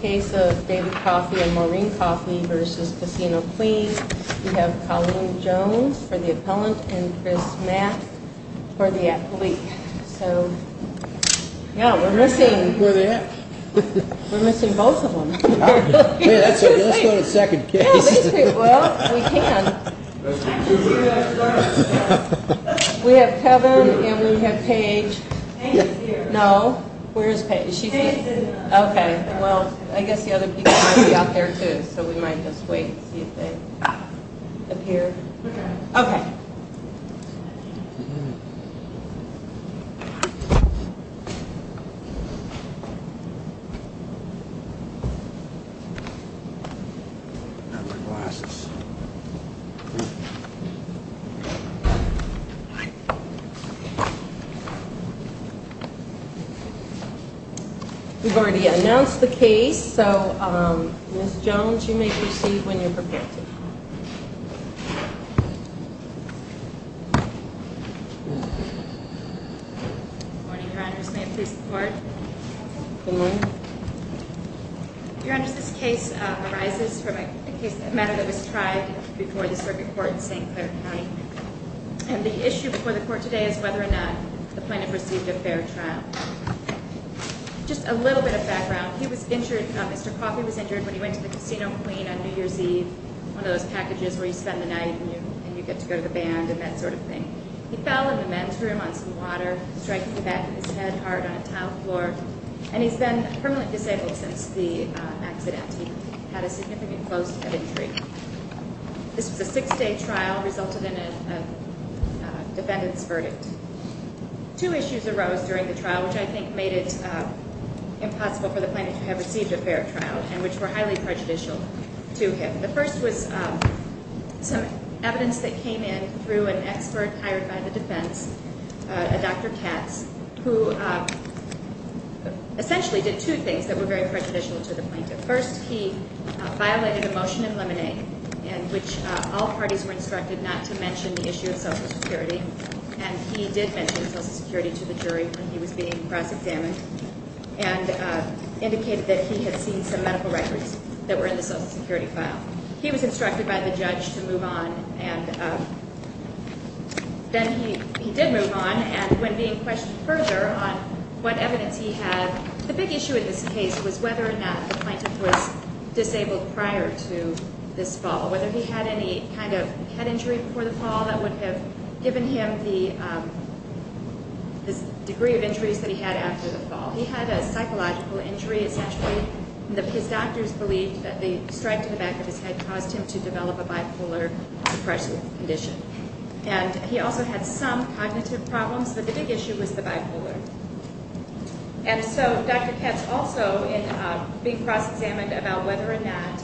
Case of David Coffey and Maureen Coffey v. Casino Queen. We have Colleen Jones for the appellant and Chris Math for the athlete. So, yeah, we're missing both of them. Let's go to the second case. Well, we can. We have Kevin and we have Paige. Paige is here. No, where is Paige? Paige is not here. Okay. Well, I guess the other people might be out there, too, so we might just wait and see if they appear. Okay. Okay. We've already announced the case, so Ms. Jones, you may proceed when you're prepared to. Good morning, Your Honors. May it please the Court. Good morning. Your Honors, this case arises from a case that was tried before the circuit court in St. Clair County. And the issue before the court today is whether or not the plaintiff received a fair trial. Just a little bit of background. Mr. Coffey was injured when he went to the Casino Queen on New Year's Eve, one of those packages where you spend the night and you get to go to the band and that sort of thing. He fell in the men's room on some water, striking the back of his head hard on a tile floor. And he's been permanently disabled since the accident. He had a significant close head injury. This was a six-day trial, resulted in a defendant's verdict. Two issues arose during the trial, which I think made it impossible for the plaintiff to have received a fair trial, and which were highly prejudicial to him. The first was some evidence that came in through an expert hired by the defense, a Dr. Katz, who essentially did two things that were very prejudicial to the plaintiff. First, he violated a motion in Lemonade in which all parties were instructed not to mention the issue of Social Security. And he did mention Social Security to the jury when he was being cross-examined and indicated that he had seen some medical records that were in the Social Security file. He was instructed by the judge to move on, and then he did move on. And when being questioned further on what evidence he had, the big issue in this case was whether or not the plaintiff was disabled prior to this fall, whether he had any kind of head injury before the fall that would have given him the degree of injuries that he had after the fall. He had a psychological injury, essentially. His doctors believed that the strike to the back of his head caused him to develop a bipolar depression condition. And he also had some cognitive problems, but the big issue was the bipolar. And so Dr. Katz also being cross-examined about whether or not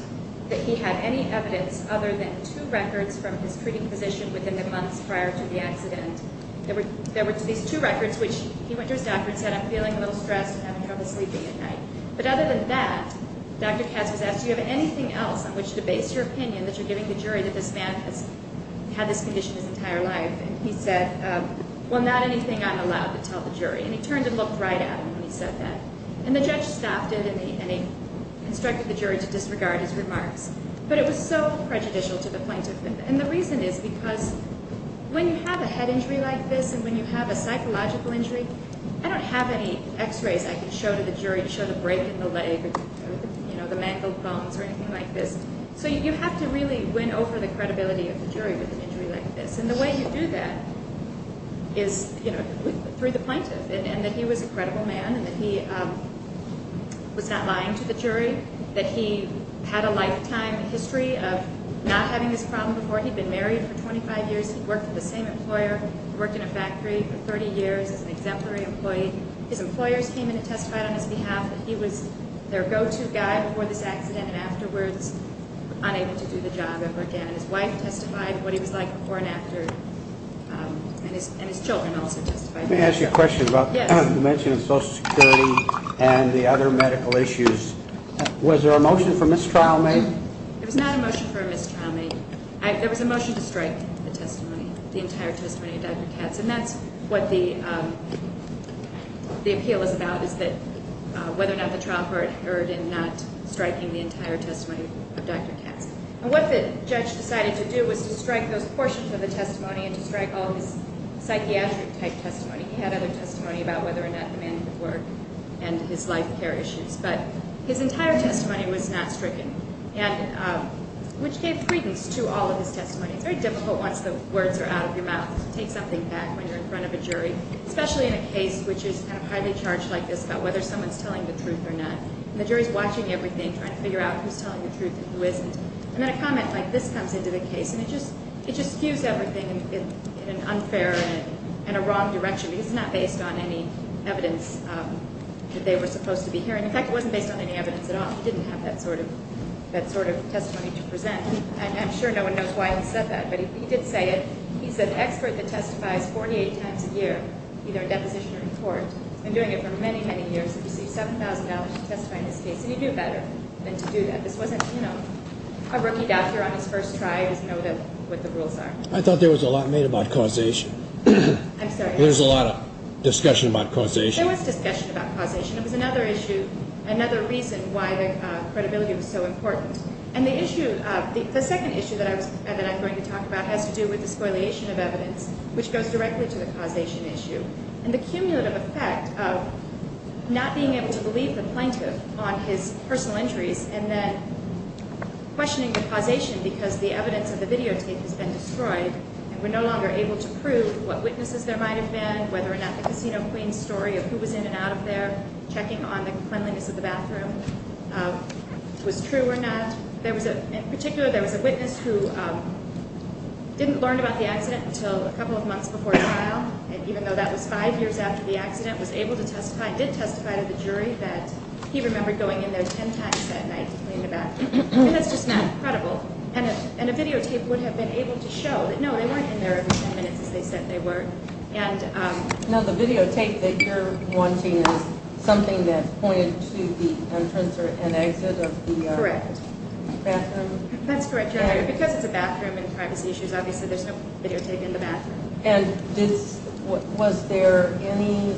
that he had any evidence other than two records from his treating physician within the months prior to the accident. There were these two records, which he went to his doctor and said, I'm feeling a little stressed and having trouble sleeping at night. But other than that, Dr. Katz was asked, do you have anything else on which to base your opinion that you're giving the jury that this man has had this condition his entire life? And he said, well, not anything I'm allowed to tell the jury. And he turned and looked right at him when he said that. And the judge stopped him, and he instructed the jury to disregard his remarks. But it was so prejudicial to the plaintiff. And the reason is because when you have a head injury like this and when you have a psychological injury, I don't have any x-rays I can show to the jury to show the break in the leg or the mangled bones or anything like this. So you have to really win over the credibility of the jury with an injury like this. And the way you do that is through the plaintiff and that he was a credible man and that he was not lying to the jury, that he had a lifetime history of not having this problem before. He'd been married for 25 years. He'd worked with the same employer, worked in a factory for 30 years as an exemplary employee. His employers came in and testified on his behalf that he was their go-to guy before this accident and afterwards unable to do the job ever again. His wife testified what he was like before and after, and his children also testified. Let me ask you a question about the mention of Social Security and the other medical issues. Was there a motion for mistrial made? There was not a motion for mistrial made. There was a motion to strike the testimony, the entire testimony of Dr. Katz, and that's what the appeal is about is that whether or not the trial court heard in not striking the entire testimony of Dr. Katz. And what the judge decided to do was to strike those portions of the testimony and to strike all of his psychiatric-type testimony. He had other testimony about whether or not the man could work and his life care issues. But his entire testimony was not stricken, which gave credence to all of his testimony. It's very difficult once the words are out of your mouth to take something back when you're in front of a jury, especially in a case which is kind of highly charged like this about whether someone's telling the truth or not. And the jury's watching everything, trying to figure out who's telling the truth and who isn't. And then a comment like this comes into the case, and it just skews everything in an unfair and a wrong direction because it's not based on any evidence that they were supposed to be hearing. In fact, it wasn't based on any evidence at all. He didn't have that sort of testimony to present. And I'm sure no one knows why he said that, but he did say it. He's an expert that testifies 48 times a year, either in deposition or in court. He's been doing it for many, many years. He received $7,000 for testifying in this case, and you do better than to do that. This wasn't, you know, a rookie doctor on his first try who doesn't know what the rules are. I thought there was a lot made about causation. I'm sorry? There was a lot of discussion about causation. There was discussion about causation. It was another issue, another reason why the credibility was so important. And the issue, the second issue that I'm going to talk about has to do with the spoiliation of evidence, which goes directly to the causation issue. And the cumulative effect of not being able to believe the plaintiff on his personal injuries and then questioning the causation because the evidence of the videotape has been destroyed and we're no longer able to prove what witnesses there might have been, whether or not the casino queen's story of who was in and out of there, checking on the cleanliness of the bathroom, was true or not. In particular, there was a witness who didn't learn about the accident until a couple of months before trial, and even though that was five years after the accident, was able to testify, did testify to the jury that he remembered going in there ten times that night to clean the bathroom. That's just not credible. And a videotape would have been able to show that, no, they weren't in there every ten minutes as they said they were. Now, the videotape that you're wanting is something that's pointed to the entrance or an exit of the bathroom? That's correct. Because it's a bathroom and privacy issues, obviously there's no videotape in the bathroom. And was there any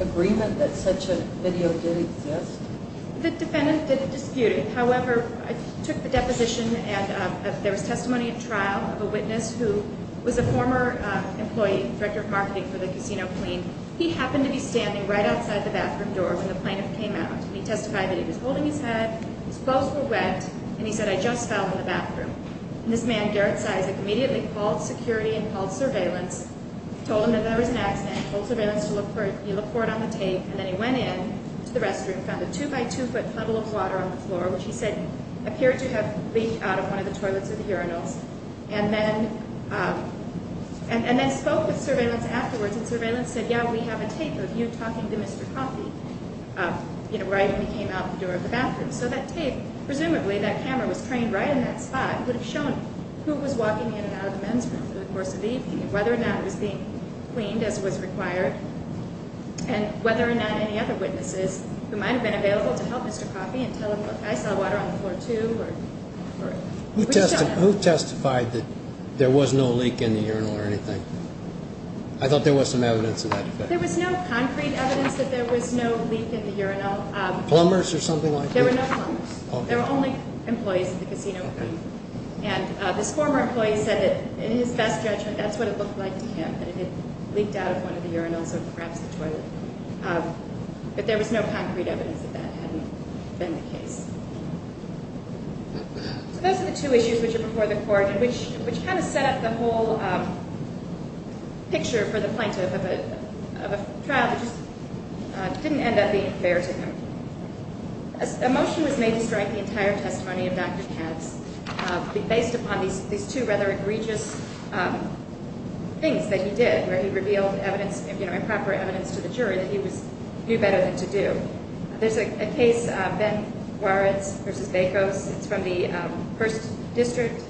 agreement that such a video did exist? The defendant didn't dispute it. However, I took the deposition and there was testimony at trial of a witness who was a former employee, director of marketing for the casino queen. He happened to be standing right outside the bathroom door when the plaintiff came out. He testified that he was holding his head, his clothes were wet, and he said, And this man, Garrett Sizick, immediately called security and called surveillance, told them that there was an accident, told surveillance to look for it, he looked for it on the tape, and then he went in to the restroom, found a two-by-two-foot puddle of water on the floor, which he said appeared to have leaked out of one of the toilets of the urinals, and then spoke with surveillance afterwards, and surveillance said, yeah, we have a tape of you talking to Mr. Coffee, you know, right when he came out the door of the bathroom. So that tape, presumably that camera was craned right in that spot, would have shown who was walking in and out of the men's room through the course of the evening, whether or not it was being cleaned as was required, and whether or not any other witnesses, who might have been available to help Mr. Coffee and tell him, look, I saw water on the floor, too. Who testified that there was no leak in the urinal or anything? I thought there was some evidence of that. There was no concrete evidence that there was no leak in the urinal. Plumbers or something like that? There were no plumbers. There were only employees at the casino. And this former employee said that in his best judgment, that's what it looked like to him, that it had leaked out of one of the urinals or perhaps the toilet. But there was no concrete evidence that that hadn't been the case. Which kind of set up the whole picture for the plaintiff of a trial that just didn't end up being fair to him. A motion was made to strike the entire testimony of Dr. Katz, based upon these two rather egregious things that he did, where he revealed evidence, improper evidence to the jury that he knew better than to do. There's a case, Ben Juarez v. Bacos. It's from the Hearst District.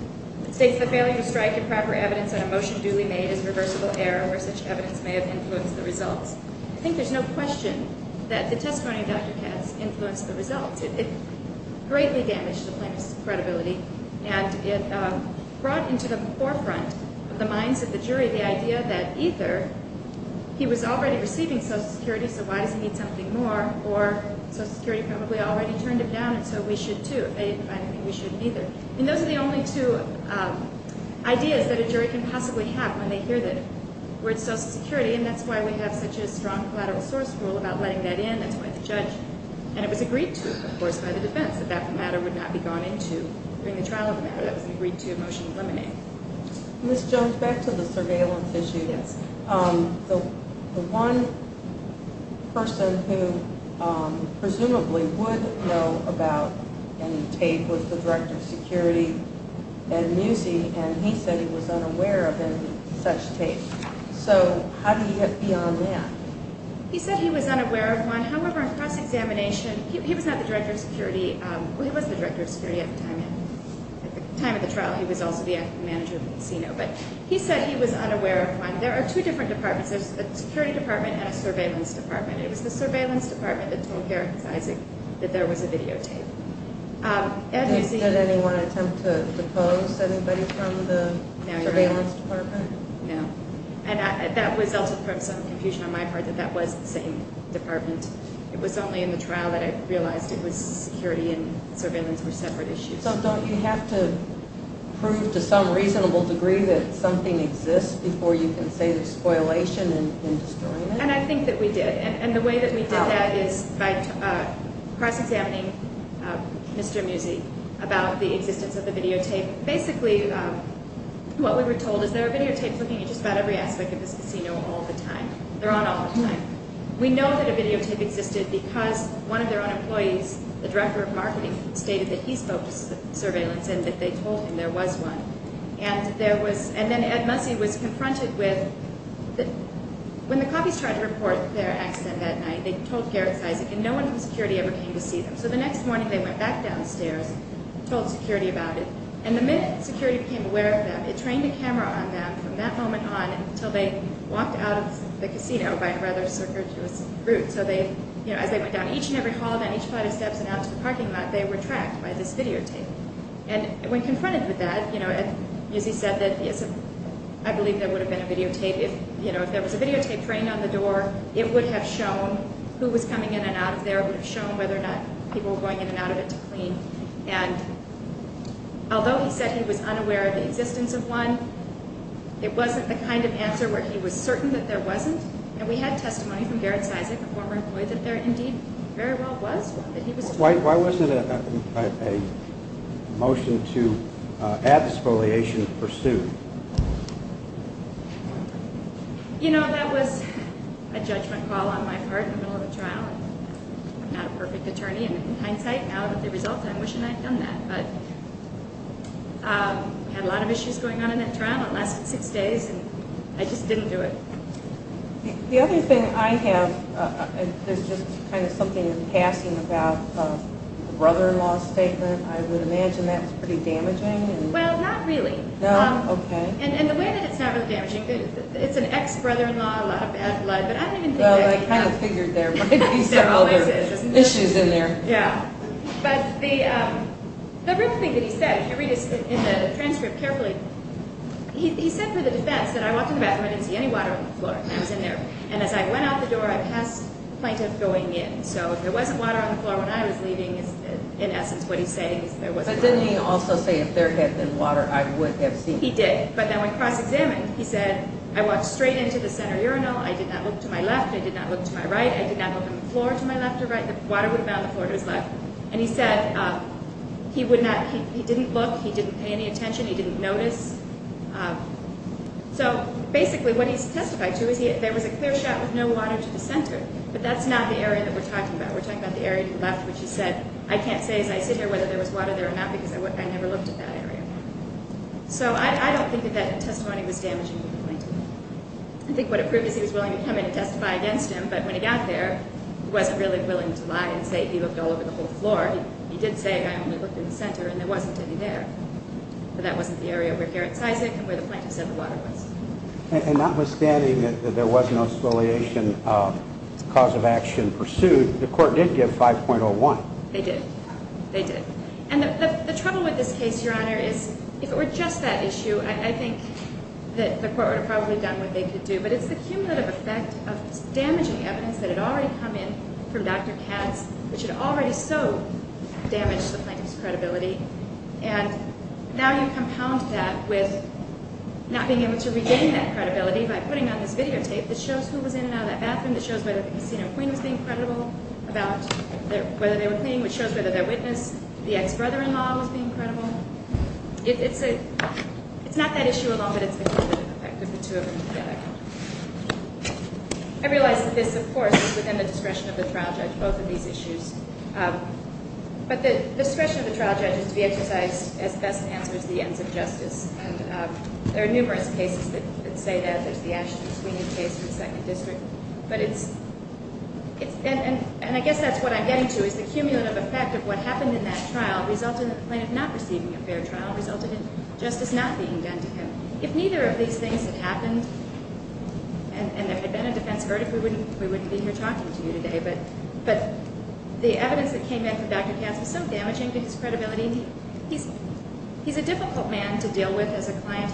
It states that failing to strike improper evidence on a motion duly made is a reversible error, where such evidence may have influenced the results. I think there's no question that the testimony of Dr. Katz influenced the results. It greatly damaged the plaintiff's credibility, and it brought into the forefront of the minds of the jury the idea that either he was already receiving Social Security, so why does he need something more, or Social Security probably already turned him down, and so we should, too, if they didn't find anything we shouldn't either. And those are the only two ideas that a jury can possibly have when they hear the word Social Security, and that's why we have such a strong collateral source rule about letting that in. That's why the judge, and it was agreed to, of course, by the defense, that that matter would not be gone into during the trial of the matter. That was agreed to a motion to eliminate. Let's jump back to the surveillance issue. Yes. The one person who presumably would know about any tape was the director of security, Ed Musi, and he said he was unaware of any such tape. So how do you get beyond that? He said he was unaware of one. However, in cross-examination, he was not the director of security. He was the director of security at the time of the trial. He was also the manager of the casino, but he said he was unaware of one. There are two different departments. There's a security department and a surveillance department. It was the surveillance department that told Garrett and Isaac that there was a videotape. Did anyone attempt to depose anybody from the surveillance department? No. And that resulted from some confusion on my part that that was the same department. It was only in the trial that I realized it was security and surveillance were separate issues. So don't you have to prove to some reasonable degree that something exists before you can say there's spoilation in destroying it? And I think that we did. And the way that we did that is by cross-examining Mr. Musi about the existence of the videotape. Basically, what we were told is there are videotapes looking at just about every aspect of this casino all the time. They're on all the time. We know that a videotape existed because one of their own employees, the director of marketing, stated that he spoke to surveillance and that they told him there was one. And then Ed Musi was confronted with, when the copies tried to report their accident that night, they told Garrett and Isaac and no one from security ever came to see them. So the next morning they went back downstairs and told security about it. And the minute security became aware of them, it trained a camera on them from that moment on until they walked out of the casino by a rather circuitous route. As they went down each and every hall, down each flight of steps, and out to the parking lot, they were tracked by this videotape. And when confronted with that, Ed Musi said that I believe there would have been a videotape. If there was a videotape trained on the door, it would have shown who was coming in and out of there. It would have shown whether or not people were going in and out of it to clean. And although he said he was unaware of the existence of one, it wasn't the kind of answer where he was certain that there wasn't. And we had testimony from Garrett's Isaac, a former employee, that there indeed very well was one. Why was it a motion to add expoliation pursued? You know, that was a judgment call on my part in the middle of a trial. I'm not a perfect attorney, and in hindsight, now that the results, I'm wishing I'd done that. But I had a lot of issues going on in that trial. It lasted six days, and I just didn't do it. The other thing I have, there's just kind of something passing about a brother-in-law statement. I would imagine that's pretty damaging. Well, not really. No? Okay. And the way that it's not really damaging, it's an ex-brother-in-law, a lot of bad blood. But I don't even think that... Well, I kind of figured there might be some other issues in there. Yeah. But the real thing that he said, if you read it in the transcript carefully, he said for the defense that I walked in the bathroom, I didn't see any water on the floor. And I was in there. And as I went out the door, I passed the plaintiff going in. So if there wasn't water on the floor when I was leaving, in essence, what he's saying is there wasn't water. But didn't he also say if there had been water, I would have seen it? He did. But then when cross-examined, he said, I walked straight into the center urinal. I did not look to my left. I did not look to my right. I did not look on the floor to my left or right. The water would have been on the floor to his left. And he said he didn't look. He didn't pay any attention. He didn't notice. So basically what he's testifying to is there was a clear shot with no water to the center. But that's not the area that we're talking about. We're talking about the area to the left, which he said, I can't say as I sit here whether there was water there or not because I never looked at that area. So I don't think that that testimony was damaging to the plaintiff. I think what it proved is he was willing to come in and testify against him. But when he got there, he wasn't really willing to lie and say he looked all over the whole floor. He did say, I only looked in the center, and there wasn't any there. But that wasn't the area over here at Syzic and where the plaintiff said the water was. And notwithstanding that there was no affiliation cause of action pursued, the court did give 5.01. They did. They did. And the trouble with this case, Your Honor, is if it were just that issue, I think that the court would have probably done what they could do. But it's the cumulative effect of damaging evidence that had already come in from Dr. Katz, which had already so damaged the plaintiff's credibility. And now you compound that with not being able to regain that credibility by putting on this videotape that shows who was in and out of that bathroom, that shows whether the casino queen was being credible about whether they were cleaning, which shows whether their witness, the ex-brother-in-law, was being credible. It's not that issue alone, but it's the cumulative effect of the two of them together. I realize that this, of course, is within the discretion of the trial judge, both of these issues. But the discretion of the trial judge is to be exercised as best answers to the ends of justice. And there are numerous cases that say that. There's the Ashton-Sweeney case in the Second District. And I guess that's what I'm getting to is the cumulative effect of what happened in that trial resulted in the plaintiff not receiving a fair trial, resulted in justice not being done to him. If neither of these things had happened and there had been a defense verdict, we wouldn't be here talking to you today. But the evidence that came in from Dr. Katz was so damaging to his credibility. He's a difficult man to deal with as a client.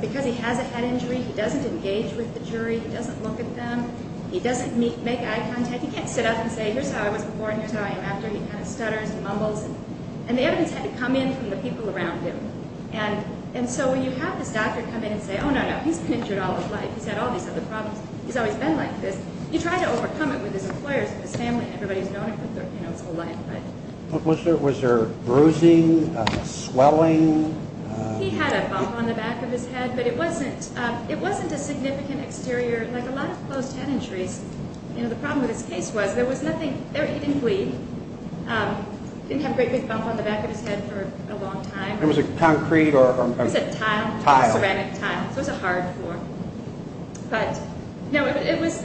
Because he has a head injury, he doesn't engage with the jury. He doesn't look at them. He doesn't make eye contact. He can't sit up and say, here's how I was before and here's how I am after. He kind of stutters and mumbles. And the evidence had to come in from the people around him. And so when you have this doctor come in and say, oh, no, no, he's been injured all his life. He's had all these other problems. He's always been like this. You try to overcome it with his employers, his family, everybody who's known him his whole life. Was there bruising, swelling? He had a bump on the back of his head. But it wasn't a significant exterior, like a lot of closed-head injuries. The problem with his case was there was nothing there, even bleed. He didn't have a great big bump on the back of his head for a long time. It was a concrete or a tile. It was a ceramic tile. It was a hard floor. It was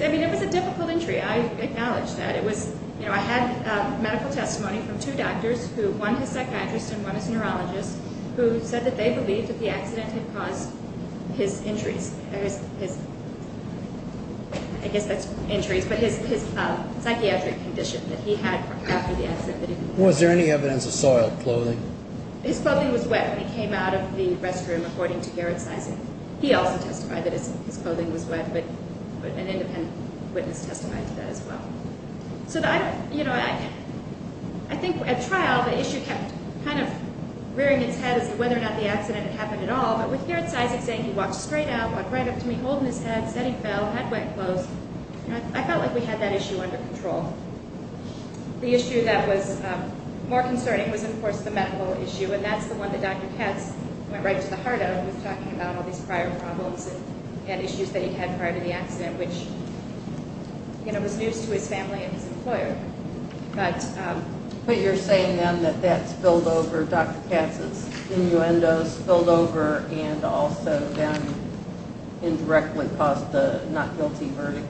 a difficult injury. I acknowledge that. I had medical testimony from two doctors, one a psychiatrist and one a neurologist, who said that they believed that the accident had caused his injuries. I guess that's injuries, but his psychiatric condition that he had after the accident. Was there any evidence of soiled clothing? His clothing was wet when he came out of the restroom, according to Garrett Sysak. He also testified that his clothing was wet, but an independent witness testified to that as well. So I think at trial the issue kept kind of rearing its head as to whether or not the accident had happened at all. But with Garrett Sysak saying he walked straight out, walked right up to me, holding his head, said he fell, had wet clothes, I felt like we had that issue under control. The issue that was more concerning was, of course, the medical issue, and that's the one that Dr. Katz went right to the heart of when he was talking about all these prior problems and issues that he had prior to the accident, which was news to his family and his employer. But you're saying, then, that that spilled over, Dr. Katz's innuendo spilled over, and also then indirectly caused the not guilty verdict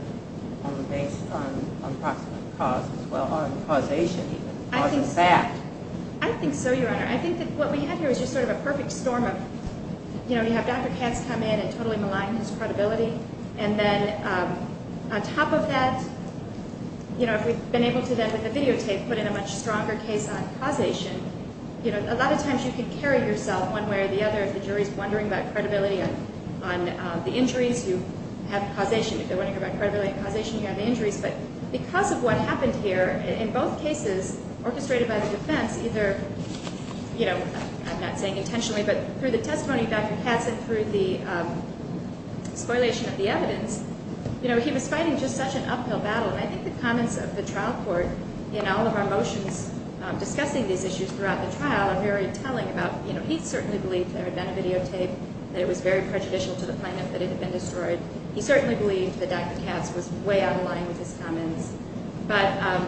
based on approximate cause as well, on causation even. I think so, Your Honor. I think that what we had here was just sort of a perfect storm of, you know, you have Dr. Katz come in and totally malign his credibility, and then on top of that, you know, if we've been able to then, with the videotape, put in a much stronger case on causation, you know, a lot of times you can carry yourself one way or the other if the jury's wondering about credibility on the injuries, you have causation. If they're wondering about credibility and causation, you have the injuries. But because of what happened here, in both cases, orchestrated by the defense, either, you know, I'm not saying intentionally, but through the testimony of Dr. Katz and through the spoliation of the evidence, you know, he was fighting just such an uphill battle, and I think the comments of the trial court in all of our motions discussing these issues throughout the trial are very telling about, you know, he certainly believed there had been a videotape, that it was very prejudicial to the plaintiff, that it had been destroyed. He certainly believed that Dr. Katz was way out of line with his comments. But I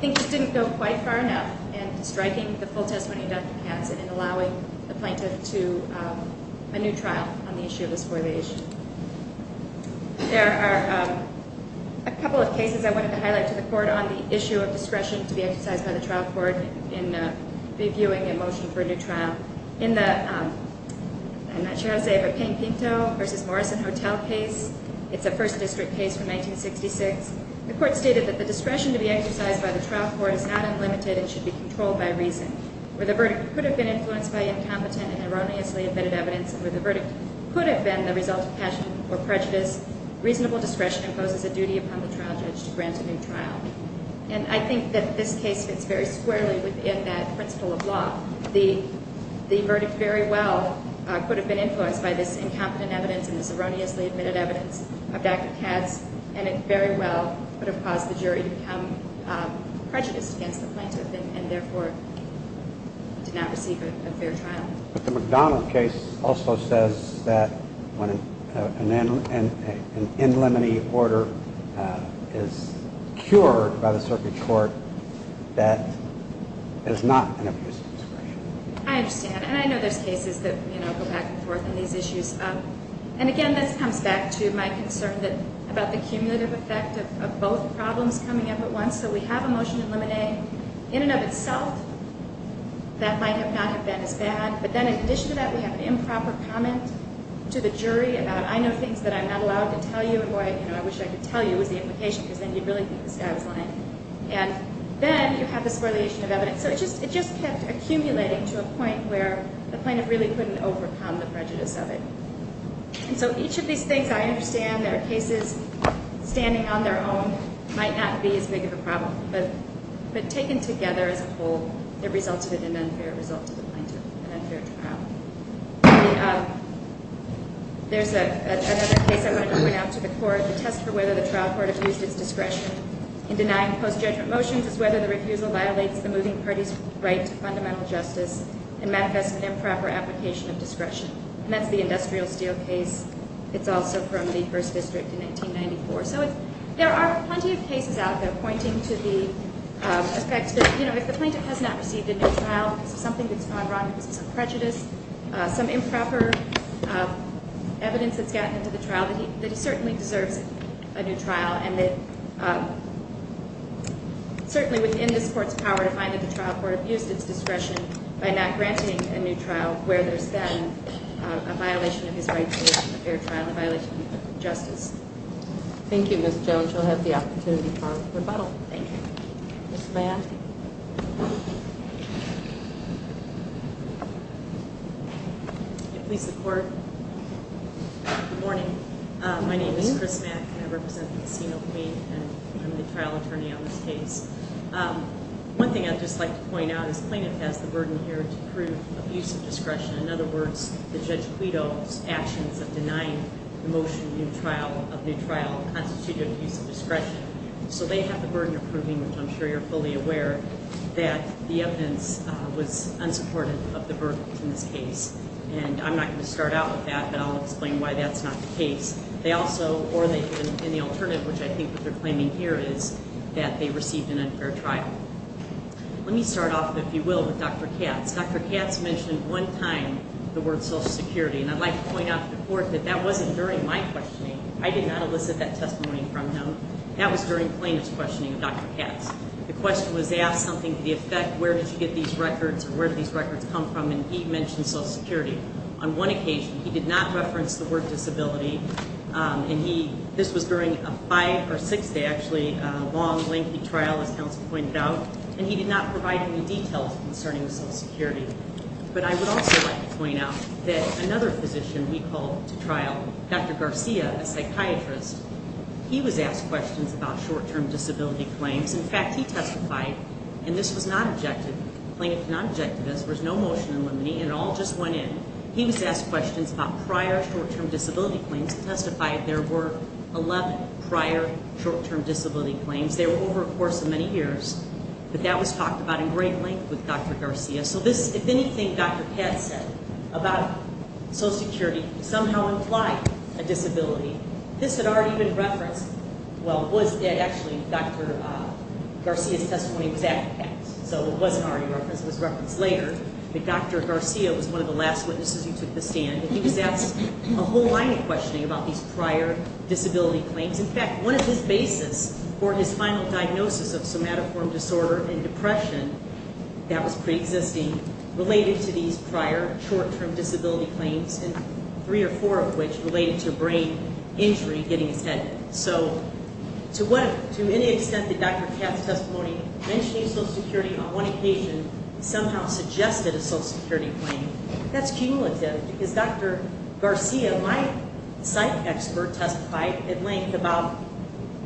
think he didn't go quite far enough in striking the full testimony of Dr. Katz and in allowing the plaintiff to a new trial on the issue of the spoliation. There are a couple of cases I wanted to highlight to the Court on the issue of discretion to be exercised by the trial court in reviewing a motion for a new trial. In the, I'm not sure how to say it, but Pankinto v. Morrison Hotel case, it's a 1st District case from 1966, the Court stated that the discretion to be exercised by the trial court is not unlimited and should be controlled by reason. Where the verdict could have been influenced by incompetent and erroneously admitted evidence, and where the verdict could have been the result of passion or prejudice, reasonable discretion imposes a duty upon the trial judge to grant a new trial. And I think that this case fits very squarely within that principle of law. The verdict very well could have been influenced by this incompetent evidence and this erroneously admitted evidence of Dr. Katz, and it very well could have caused the jury to become prejudiced against the plaintiff and therefore did not receive a fair trial. But the McDonald case also says that when an in limine order is cured by the circuit court, that is not an abuse of discretion. I understand, and I know there's cases that go back and forth on these issues. And again, this comes back to my concern about the cumulative effect of both problems coming up at once. So we have a motion in limine. In and of itself, that might not have been as bad. But then in addition to that, we have an improper comment to the jury about, I know things that I'm not allowed to tell you, and boy, I wish I could tell you was the implication, because then you'd really think this guy was lying. And then you have this correlation of evidence. So it just kept accumulating to a point where the plaintiff really couldn't overcome the prejudice of it. And so each of these things I understand that are cases standing on their own might not be as big of a problem. But taken together as a whole, it resulted in an unfair result to the plaintiff, an unfair trial. There's another case I want to point out to the court, the test for whether the trial court abused its discretion in denying post-judgment motions versus whether the refusal violates the moving party's right to fundamental justice and manifests an improper application of discretion. And that's the industrial steel case. It's also from the First District in 1994. So there are plenty of cases out there pointing to the effect that, you know, if the plaintiff has not received a new trial because of something that's gone wrong, because of some prejudice, some improper evidence that's gotten into the trial, that he certainly deserves a new trial, and that certainly within this court's power to find that the trial court abused its discretion by not granting a new trial where there's then a violation of his right to a fair trial, a violation of justice. Thank you, Ms. Jones. You'll have the opportunity for rebuttal. Thank you. Ms. Mann. Thank you. Please, the court. Good morning. My name is Chris Mack, and I represent the Casino Claim, and I'm the trial attorney on this case. One thing I'd just like to point out is the plaintiff has the burden here to prove abuse of discretion. In other words, the Judge Guido's actions of denying the motion of new trial constitute abuse of discretion. So they have the burden of proving, which I'm sure you're fully aware, that the evidence was unsupported of the verdict in this case. And I'm not going to start out with that, but I'll explain why that's not the case. They also, or they've been in the alternative, which I think what they're claiming here is that they received an unfair trial. Let me start off, if you will, with Dr. Katz. Dr. Katz mentioned one time the word social security, and I'd like to point out to the court that that wasn't during my questioning. I did not elicit that testimony from him. That was during plaintiff's questioning of Dr. Katz. The question was asked something to the effect, where did you get these records, or where did these records come from? And he mentioned social security. On one occasion, he did not reference the word disability, and this was during a five- or six-day, actually, long, lengthy trial, as counsel pointed out, and he did not provide any details concerning social security. But I would also like to point out that another physician we called to trial, Dr. Garcia, a psychiatrist, he was asked questions about short-term disability claims. In fact, he testified, and this was not objected, plaintiff did not object to this. There was no motion in limine, and it all just went in. He was asked questions about prior short-term disability claims and testified there were 11 prior short-term disability claims. They were over a course of many years, but that was talked about in great length with Dr. Garcia. So this, if anything, Dr. Katz said about social security somehow implied a disability. This had already been referenced. Well, actually, Dr. Garcia's testimony was at Katz, so it wasn't already referenced. It was referenced later that Dr. Garcia was one of the last witnesses who took the stand. And he was asked a whole line of questioning about these prior disability claims. In fact, one of his basis for his final diagnosis of somatoform disorder and depression that was preexisting related to these prior short-term disability claims, and three or four of which related to brain injury, getting his head hit. So to any extent that Dr. Katz's testimony mentioning social security on one occasion somehow suggested a social security claim, that's cumulative because Dr. Garcia, my psych expert, testified at length about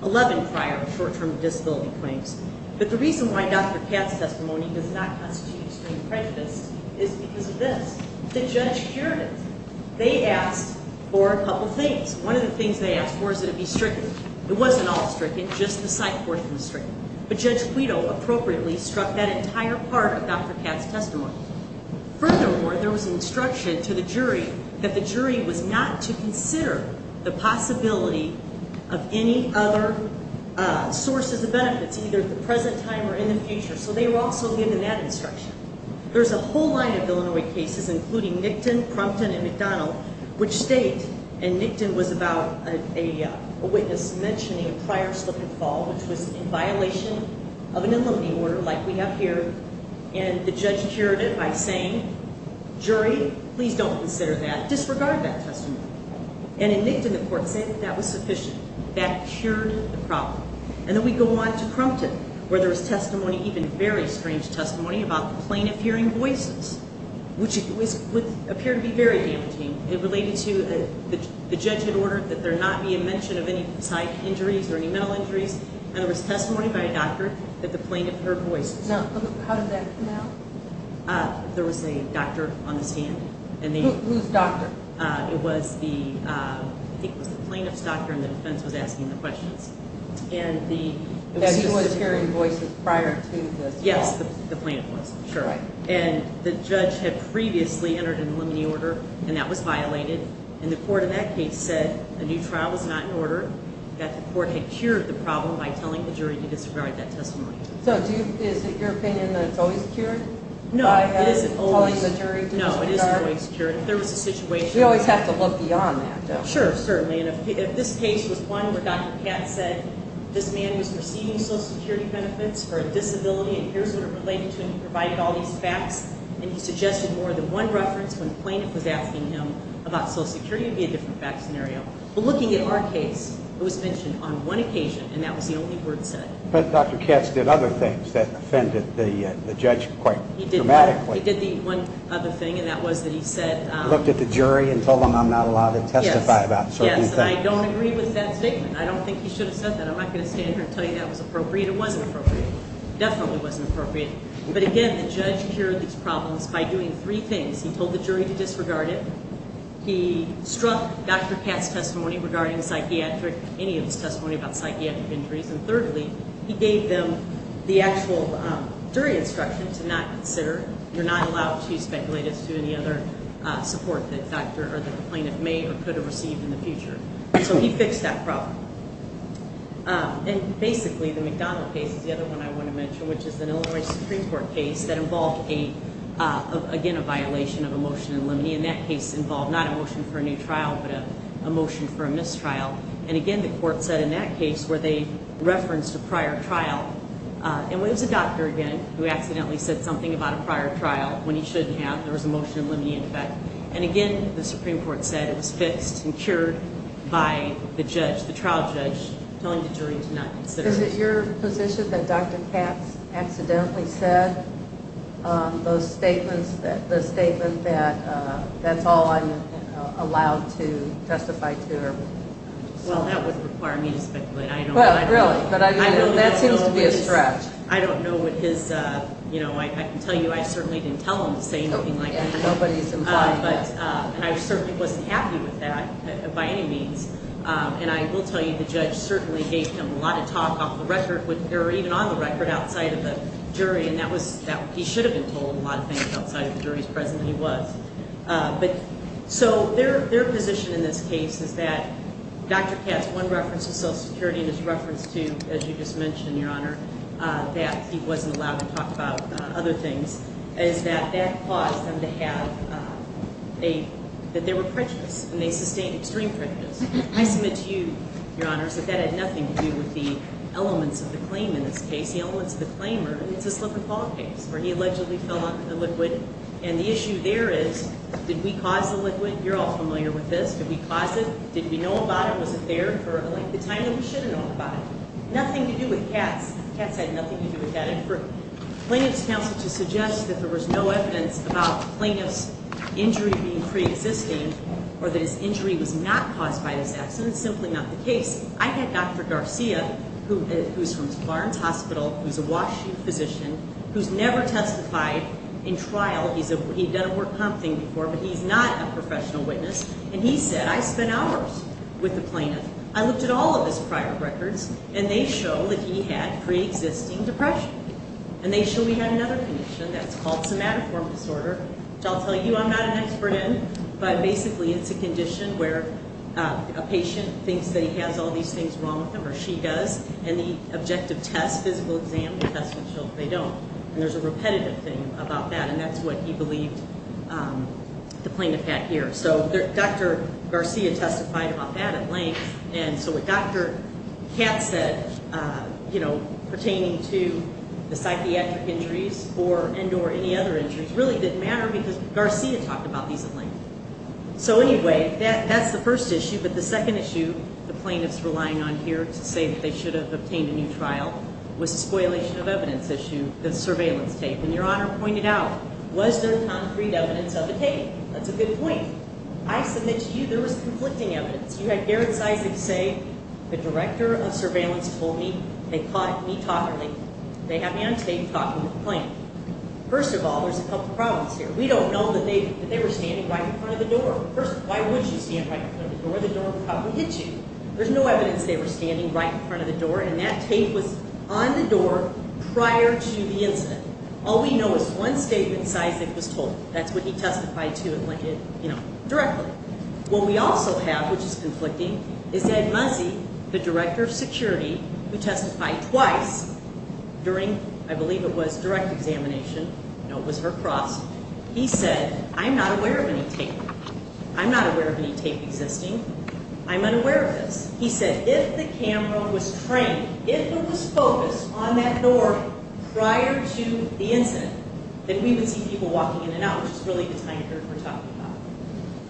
11 prior short-term disability claims. But the reason why Dr. Katz's testimony does not constitute extreme prejudice is because of this. The judge heard it. They asked for a couple things. One of the things they asked for is that it be stricken. It wasn't all stricken, just the psych portion was stricken. But Judge Guido appropriately struck that entire part of Dr. Katz's testimony. Furthermore, there was an instruction to the jury that the jury was not to consider the possibility of any other sources of benefits, either at the present time or in the future. So they were also given that instruction. There's a whole line of Illinois cases, including Nickton, Crumpton, and McDonald, which state, and Nickton was about a witness mentioning a prior slip and fall, which was in violation of an eliminating order like we have here, and the judge cured it by saying, jury, please don't consider that. Disregard that testimony. And in Nickton, the court said that was sufficient. That cured the problem. And then we go on to Crumpton, where there was testimony, even very strange testimony, about the plaintiff hearing voices, which appeared to be very dampening. It related to the judge had ordered that there not be a mention of any psych injuries or any mental injuries, and there was testimony by a doctor that the plaintiff heard voices. Now, how did that come out? There was a doctor on the stand. Who's doctor? It was the plaintiff's doctor, and the defense was asking the questions. That he was hearing voices prior to the fall. Yes, the plaintiff was, sure. And the judge had previously entered an eliminating order, and that was violated, and the court in that case said a new trial was not in order, that the court had cured the problem by telling the jury to disregard that testimony. So is it your opinion that it's always cured? No, it isn't always. By telling the jury to disregard? No, it isn't always cured. If there was a situation... You always have to look beyond that, though. Sure, certainly, and if this case was one where Dr. Katz said, this man was receiving Social Security benefits for a disability, and here's what it related to, and he provided all these facts, and he suggested more than one reference, when the plaintiff was asking him about Social Security, it would be a different fact scenario. But looking at our case, it was mentioned on one occasion, and that was the only word said. But Dr. Katz did other things that offended the judge quite dramatically. He did the one other thing, and that was that he said... He looked at the jury and told them, I'm not allowed to testify about certain things. Yes, and I don't agree with that statement. I don't think he should have said that. I'm not going to stand here and tell you that was appropriate. It wasn't appropriate. It definitely wasn't appropriate. But again, the judge cured these problems by doing three things. He told the jury to disregard it. He struck Dr. Katz's testimony regarding psychiatric, any of his testimony about psychiatric injuries. And thirdly, he gave them the actual jury instruction to not consider. You're not allowed to speculate as to any other support that the plaintiff may or could have received in the future. So he fixed that problem. And basically, the McDonald case is the other one I want to mention, which is an Illinois Supreme Court case that involved, again, a violation of a motion in limine. And that case involved not a motion for a new trial, but a motion for a mistrial. And again, the court said in that case where they referenced a prior trial. And it was a doctor, again, who accidentally said something about a prior trial when he shouldn't have. There was a motion in limine in effect. And again, the Supreme Court said it was fixed and cured by the judge, the trial judge, telling the jury to not consider. Is it your position that Dr. Katz accidentally said those statements, that that's all I'm allowed to testify to? Well, that wouldn't require me to speculate. Really? That seems to be a stretch. I don't know what his, you know, I can tell you I certainly didn't tell him to say anything like that. Nobody's implied that. And I certainly wasn't happy with that by any means. And I will tell you the judge certainly gave him a lot of talk off the record or even on the record outside of the jury. And that was, he should have been told a lot of things outside of the jury's presence, and he was. But so their position in this case is that Dr. Katz, one reference to Social Security, and his reference to, as you just mentioned, Your Honor, that he wasn't allowed to talk about other things, is that that caused them to have a, that they were prejudiced and they sustained extreme prejudice. I submit to you, Your Honors, that that had nothing to do with the elements of the claim in this case. The elements of the claim are, it's a slip and fall case where he allegedly fell off the liquid. And the issue there is, did we cause the liquid? You're all familiar with this. Did we cause it? Did we know about it? Was it there for the length of time that we should have known about it? Nothing to do with Katz. Katz had nothing to do with that. And for plaintiff's counsel to suggest that there was no evidence about the plaintiff's injury being preexisting or that his injury was not caused by this accident is simply not the case. I had Dr. Garcia, who's from Lawrence Hospital, who's a Washington physician, who's never testified in trial. He's done a work comp thing before, but he's not a professional witness. And he said, I spent hours with the plaintiff. I looked at all of his prior records, and they show that he had preexisting depression. And they show he had another condition that's called somatoform disorder, which I'll tell you I'm not an expert in. But basically it's a condition where a patient thinks that he has all these things wrong with him or she does, and the objective test, physical exam, will test and show that they don't. And there's a repetitive thing about that, and that's what he believed the plaintiff had here. So Dr. Garcia testified about that at length, and so what Dr. Katz said, you know, pertaining to the psychiatric injuries and or any other injuries really didn't matter because Garcia talked about these at length. So anyway, that's the first issue. But the second issue the plaintiff's relying on here to say that they should have obtained a new trial was the spoilation of evidence issue, the surveillance tape. And Your Honor pointed out, was there concrete evidence of a tape? That's a good point. I submit to you there was conflicting evidence. You had Garrett Sizing say, the director of surveillance told me they caught me talking. They had me on tape talking with the plaintiff. First of all, there's a couple problems here. We don't know that they were standing right in front of the door. First, why would you stand right in front of the door? The door would probably hit you. There's no evidence they were standing right in front of the door, and that tape was on the door prior to the incident. All we know is one statement Sizing was told. That's what he testified to and linked it, you know, directly. What we also have, which is conflicting, is Ed Muzzy, the director of security, who testified twice during, I believe it was, direct examination. No, it was her cross. He said, I'm not aware of any tape. I'm not aware of any tape existing. I'm unaware of this. He said, if the camera was trained, if it was focused on that door prior to the incident, then we would see people walking in and out, which is really the time curve we're talking about.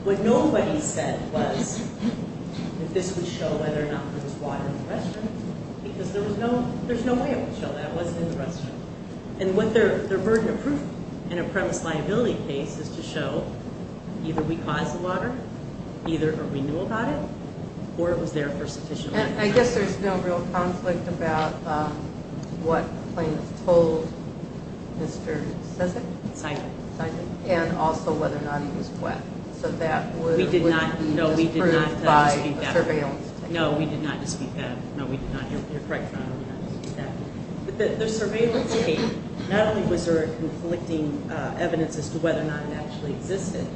What nobody said was that this would show whether or not there was water in the restroom, because there's no way it would show that it wasn't in the restroom. And their burden of proof in a premise liability case is to show either we caused the water, either we knew about it, or it was there for sufficient reason. And I guess there's no real conflict about what the plaintiff told Mr. Sizing and also whether or not he was wet. So that would be disproved by surveillance tape. No, we did not dispute that. No, we did not. You're correct, Your Honor. We did not dispute that. But the surveillance tape, not only was there conflicting evidence as to whether or not it actually existed,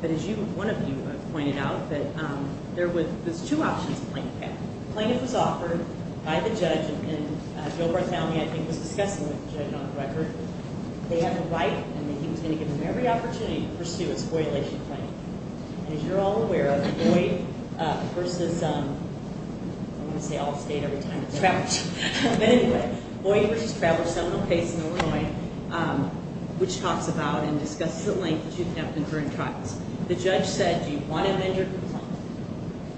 but as one of you pointed out, there's two options the plaintiff had. The plaintiff was offered by the judge, and Gilbert County, I think, was discussing with the judge on the record. They had the right, and he was going to give them every opportunity to pursue a spoilation claim. And as you're all aware, Boyd v. I'm going to say Allstate every time it's Travis. But anyway, Boyd v. Travis, Seminole Case in Illinois, which talks about and discusses at length that you can have confirmed crimes. The judge said, Do you want to amend your complaint?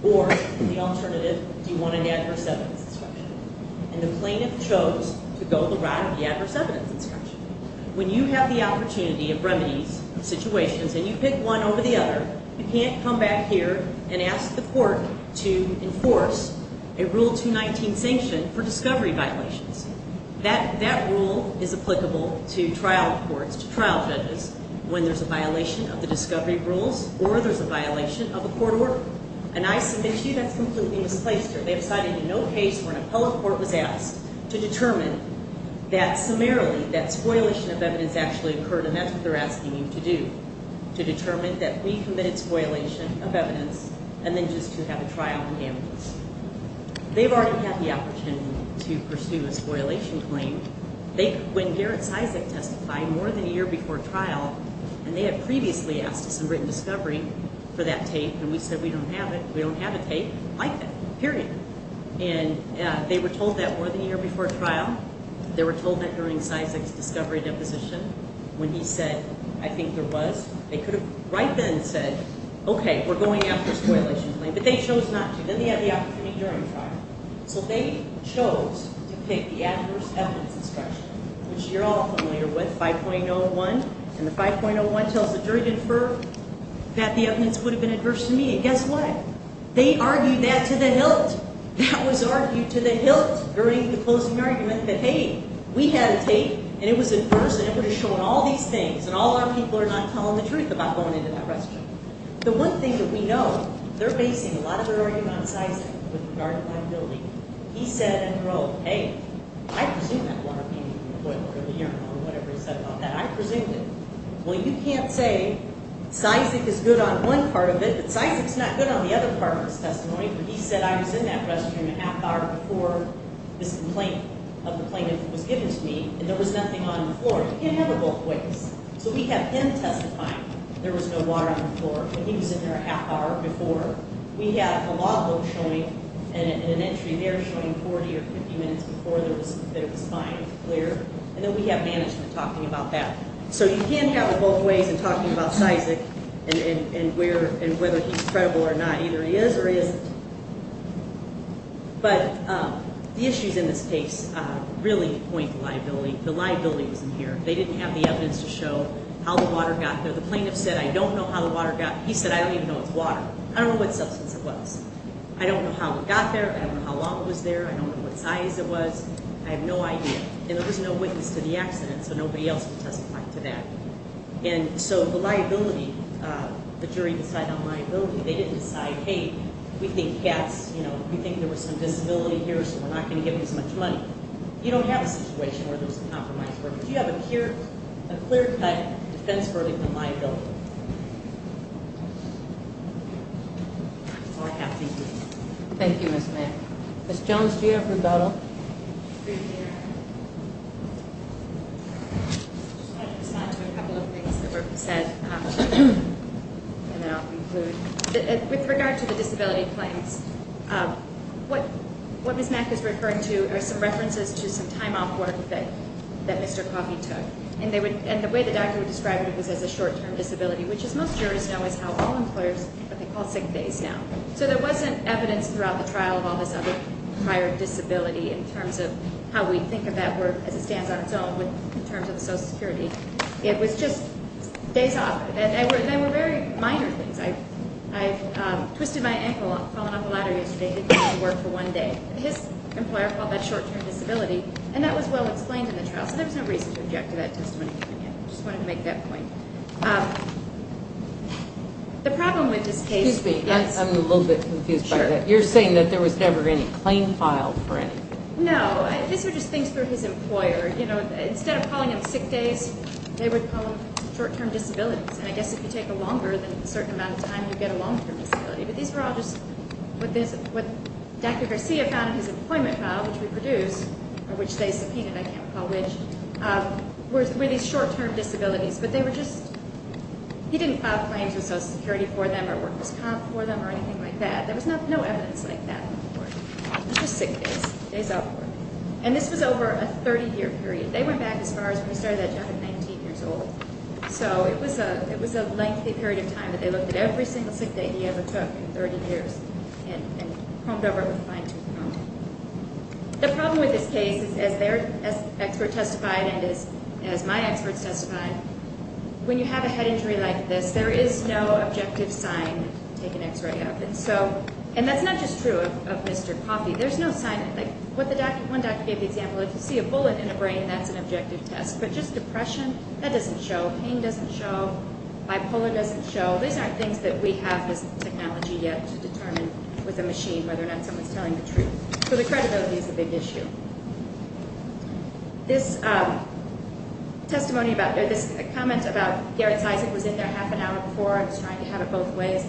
Or, the alternative, do you want an adverse evidence description? And the plaintiff chose to go the route of the adverse evidence description. When you have the opportunity of remedies, situations, and you pick one over the other, you can't come back here and ask the court to enforce a Rule 219 sanction for discovery violations. That rule is applicable to trial courts, to trial judges, when there's a violation of the discovery rules or there's a violation of a court order. And I submit to you that's completely misplaced here. They've cited no case where an appellate court was asked to determine that summarily, that spoilation of evidence actually occurred, and that's what they're asking you to do, to determine that we committed spoilation of evidence and then just to have a trial on damages. They've already had the opportunity to pursue a spoilation claim. They, when Garrett's Isaac testified more than a year before trial, and they had previously asked us in written discovery for that tape, and we said we don't have it, we don't have a tape like that, period. And they were told that more than a year before trial. They were told that during Isaac's discovery deposition when he said, I think there was, they could have right then said, okay, we're going after a spoilation claim. But they chose not to. Then they had the opportunity during trial. So they chose to pick the adverse evidence description, which you're all familiar with, 5.01. And the 5.01 tells the jury to infer that the evidence would have been adverse to me. And guess what? They argued that to the hilt. That was argued to the hilt during the closing argument that, hey, we had a tape, and it was adverse, and it would have shown all these things, and all our people are not telling the truth about going into that restroom. The one thing that we know, they're basing a lot of their argument on Isaac with regard to liability. He said in a row, hey, I presume that water came from the boiler or the urinal or whatever he said about that. I presumed it. Well, you can't say Isaac is good on one part of it, but Isaac is not good on the other part of his testimony. He said I was in that restroom a half hour before this complaint of the plaintiff was given to me, and there was nothing on the floor. You can't have it both ways. So we have him testifying. There was no water on the floor. And he was in there a half hour before. We have a law book showing and an entry there showing 40 or 50 minutes before there was fine and clear. And then we have management talking about that. So you can't have it both ways in talking about Isaac and whether he's credible or not. Either he is or he isn't. But the issues in this case really point to liability. The liability was in here. They didn't have the evidence to show how the water got there. The plaintiff said I don't know how the water got there. He said I don't even know it's water. I don't know what substance it was. I don't know how it got there. I don't know how long it was there. I don't know what size it was. I have no idea. And there was no witness to the accident, so nobody else can testify to that. And so the liability, the jury decided on liability. They didn't decide, hey, we think cats, you know, we think there was some disability here, so we're not going to give him as much money. You don't have a situation where there's a compromise verdict. You have a clear-cut defense verdict on liability. All I have to do. Thank you, Ms. Mayer. Ms. Jones, do you have rebuttal? With regard to the disability claims, what Ms. Mack is referring to are some references to some time off work that Mr. Coffey took. And the way the doctor would describe it was as a short-term disability, which, as most jurors know, is how all employers call sick days now. So there wasn't evidence throughout the trial of all this other prior disability in terms of how we think of that work as it stands on its own in terms of the Social Security. It was just days off. And they were very minor things. I twisted my ankle falling off a ladder yesterday because I didn't work for one day. His employer called that short-term disability, and that was well explained in the trial. So there was no reason to object to that testimony. I just wanted to make that point. The problem with this case is- Excuse me. I'm a little bit confused by that. Sure. You're saying that there was never any claim filed for anything? No. These were just things for his employer. Instead of calling them sick days, they would call them short-term disabilities. And I guess if you take a longer than a certain amount of time, you get a long-term disability. But these were all just what Dr. Garcia found in his appointment file, which we produced, or which they subpoenaed, I can't recall which, were these short-term disabilities. But they were just- He didn't file claims with Social Security for them or Workers' Comp for them or anything like that. There was no evidence like that on the board. It was just sick days, days off work. And this was over a 30-year period. They went back as far as when he started that job at 19 years old. So it was a lengthy period of time that they looked at every single sick day he ever took in 30 years and combed over it with a fine tooth comb. The problem with this case is, as their expert testified and as my experts testified, when you have a head injury like this, there is no objective sign to take an x-ray of. And that's not just true of Mr. Coffey. There's no sign. One doctor gave the example, if you see a bullet in a brain, that's an objective test. But just depression, that doesn't show. Pain doesn't show. Bipolar doesn't show. These aren't things that we have as technology yet to determine with a machine, whether or not someone's telling the truth. So the credibility is a big issue. This testimony about or this comment about Garrett's eyes, it was in there half an hour before. I was trying to have it both ways.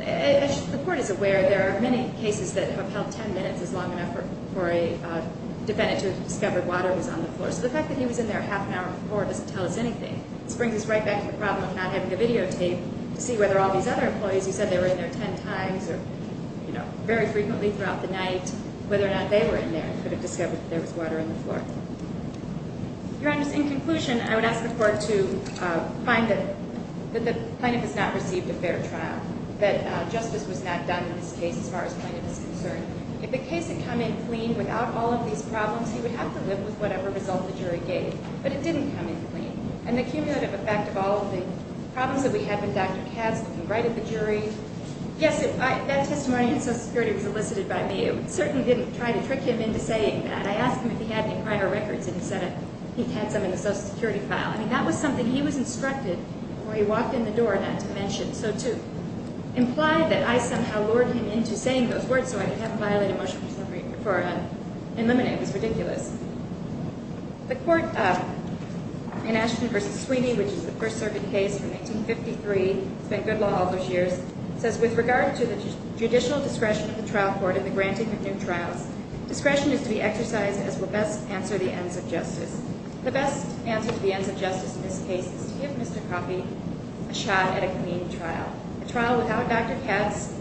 As the Court is aware, there are many cases that have held 10 minutes is long enough for a defendant to discover water was on the floor. So the fact that he was in there half an hour before doesn't tell us anything. This brings us right back to the problem of not having a videotape to see whether all these other employees, you said they were in there 10 times or, you know, very frequently throughout the night, whether or not they were in there, could have discovered that there was water on the floor. Your Honor, in conclusion, I would ask the Court to find that the plaintiff has not received a fair trial, that justice was not done in this case as far as plaintiff is concerned. If the case had come in clean without all of these problems, he would have to live with whatever result the jury gave. But it didn't come in clean. And the cumulative effect of all of the problems that we had with Dr. Katz looking right at the jury, yes, that testimony on Social Security was elicited by me. I certainly didn't try to trick him into saying that. I asked him if he had any prior records and he said he had some in the Social Security file. I mean, that was something he was instructed before he walked in the door not to mention. So to imply that I somehow lured him into saying those words so I could have him violate a motion for elimination was ridiculous. The Court in Ashton v. Sweeney, which is a First Circuit case from 1953, spent good law all those years, says with regard to the judicial discretion of the trial court in the granting of new trials, discretion is to be exercised as will best answer the ends of justice. The best answer to the ends of justice in this case is to give Mr. Coffey a shot at a clean trial, a trial without Dr. Katz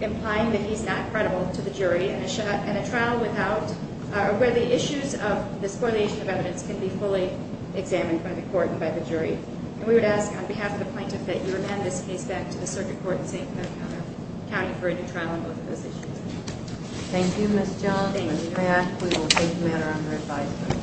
implying that he's not credible to the jury, and a trial where the issues of the spoliation of evidence can be fully examined by the court and by the jury. And we would ask on behalf of the plaintiff that you amend this case back to the Circuit Court in St. Clair County for a new trial on both of those issues. Thank you, Ms. Jones. When we react, we will take the matter under advisement.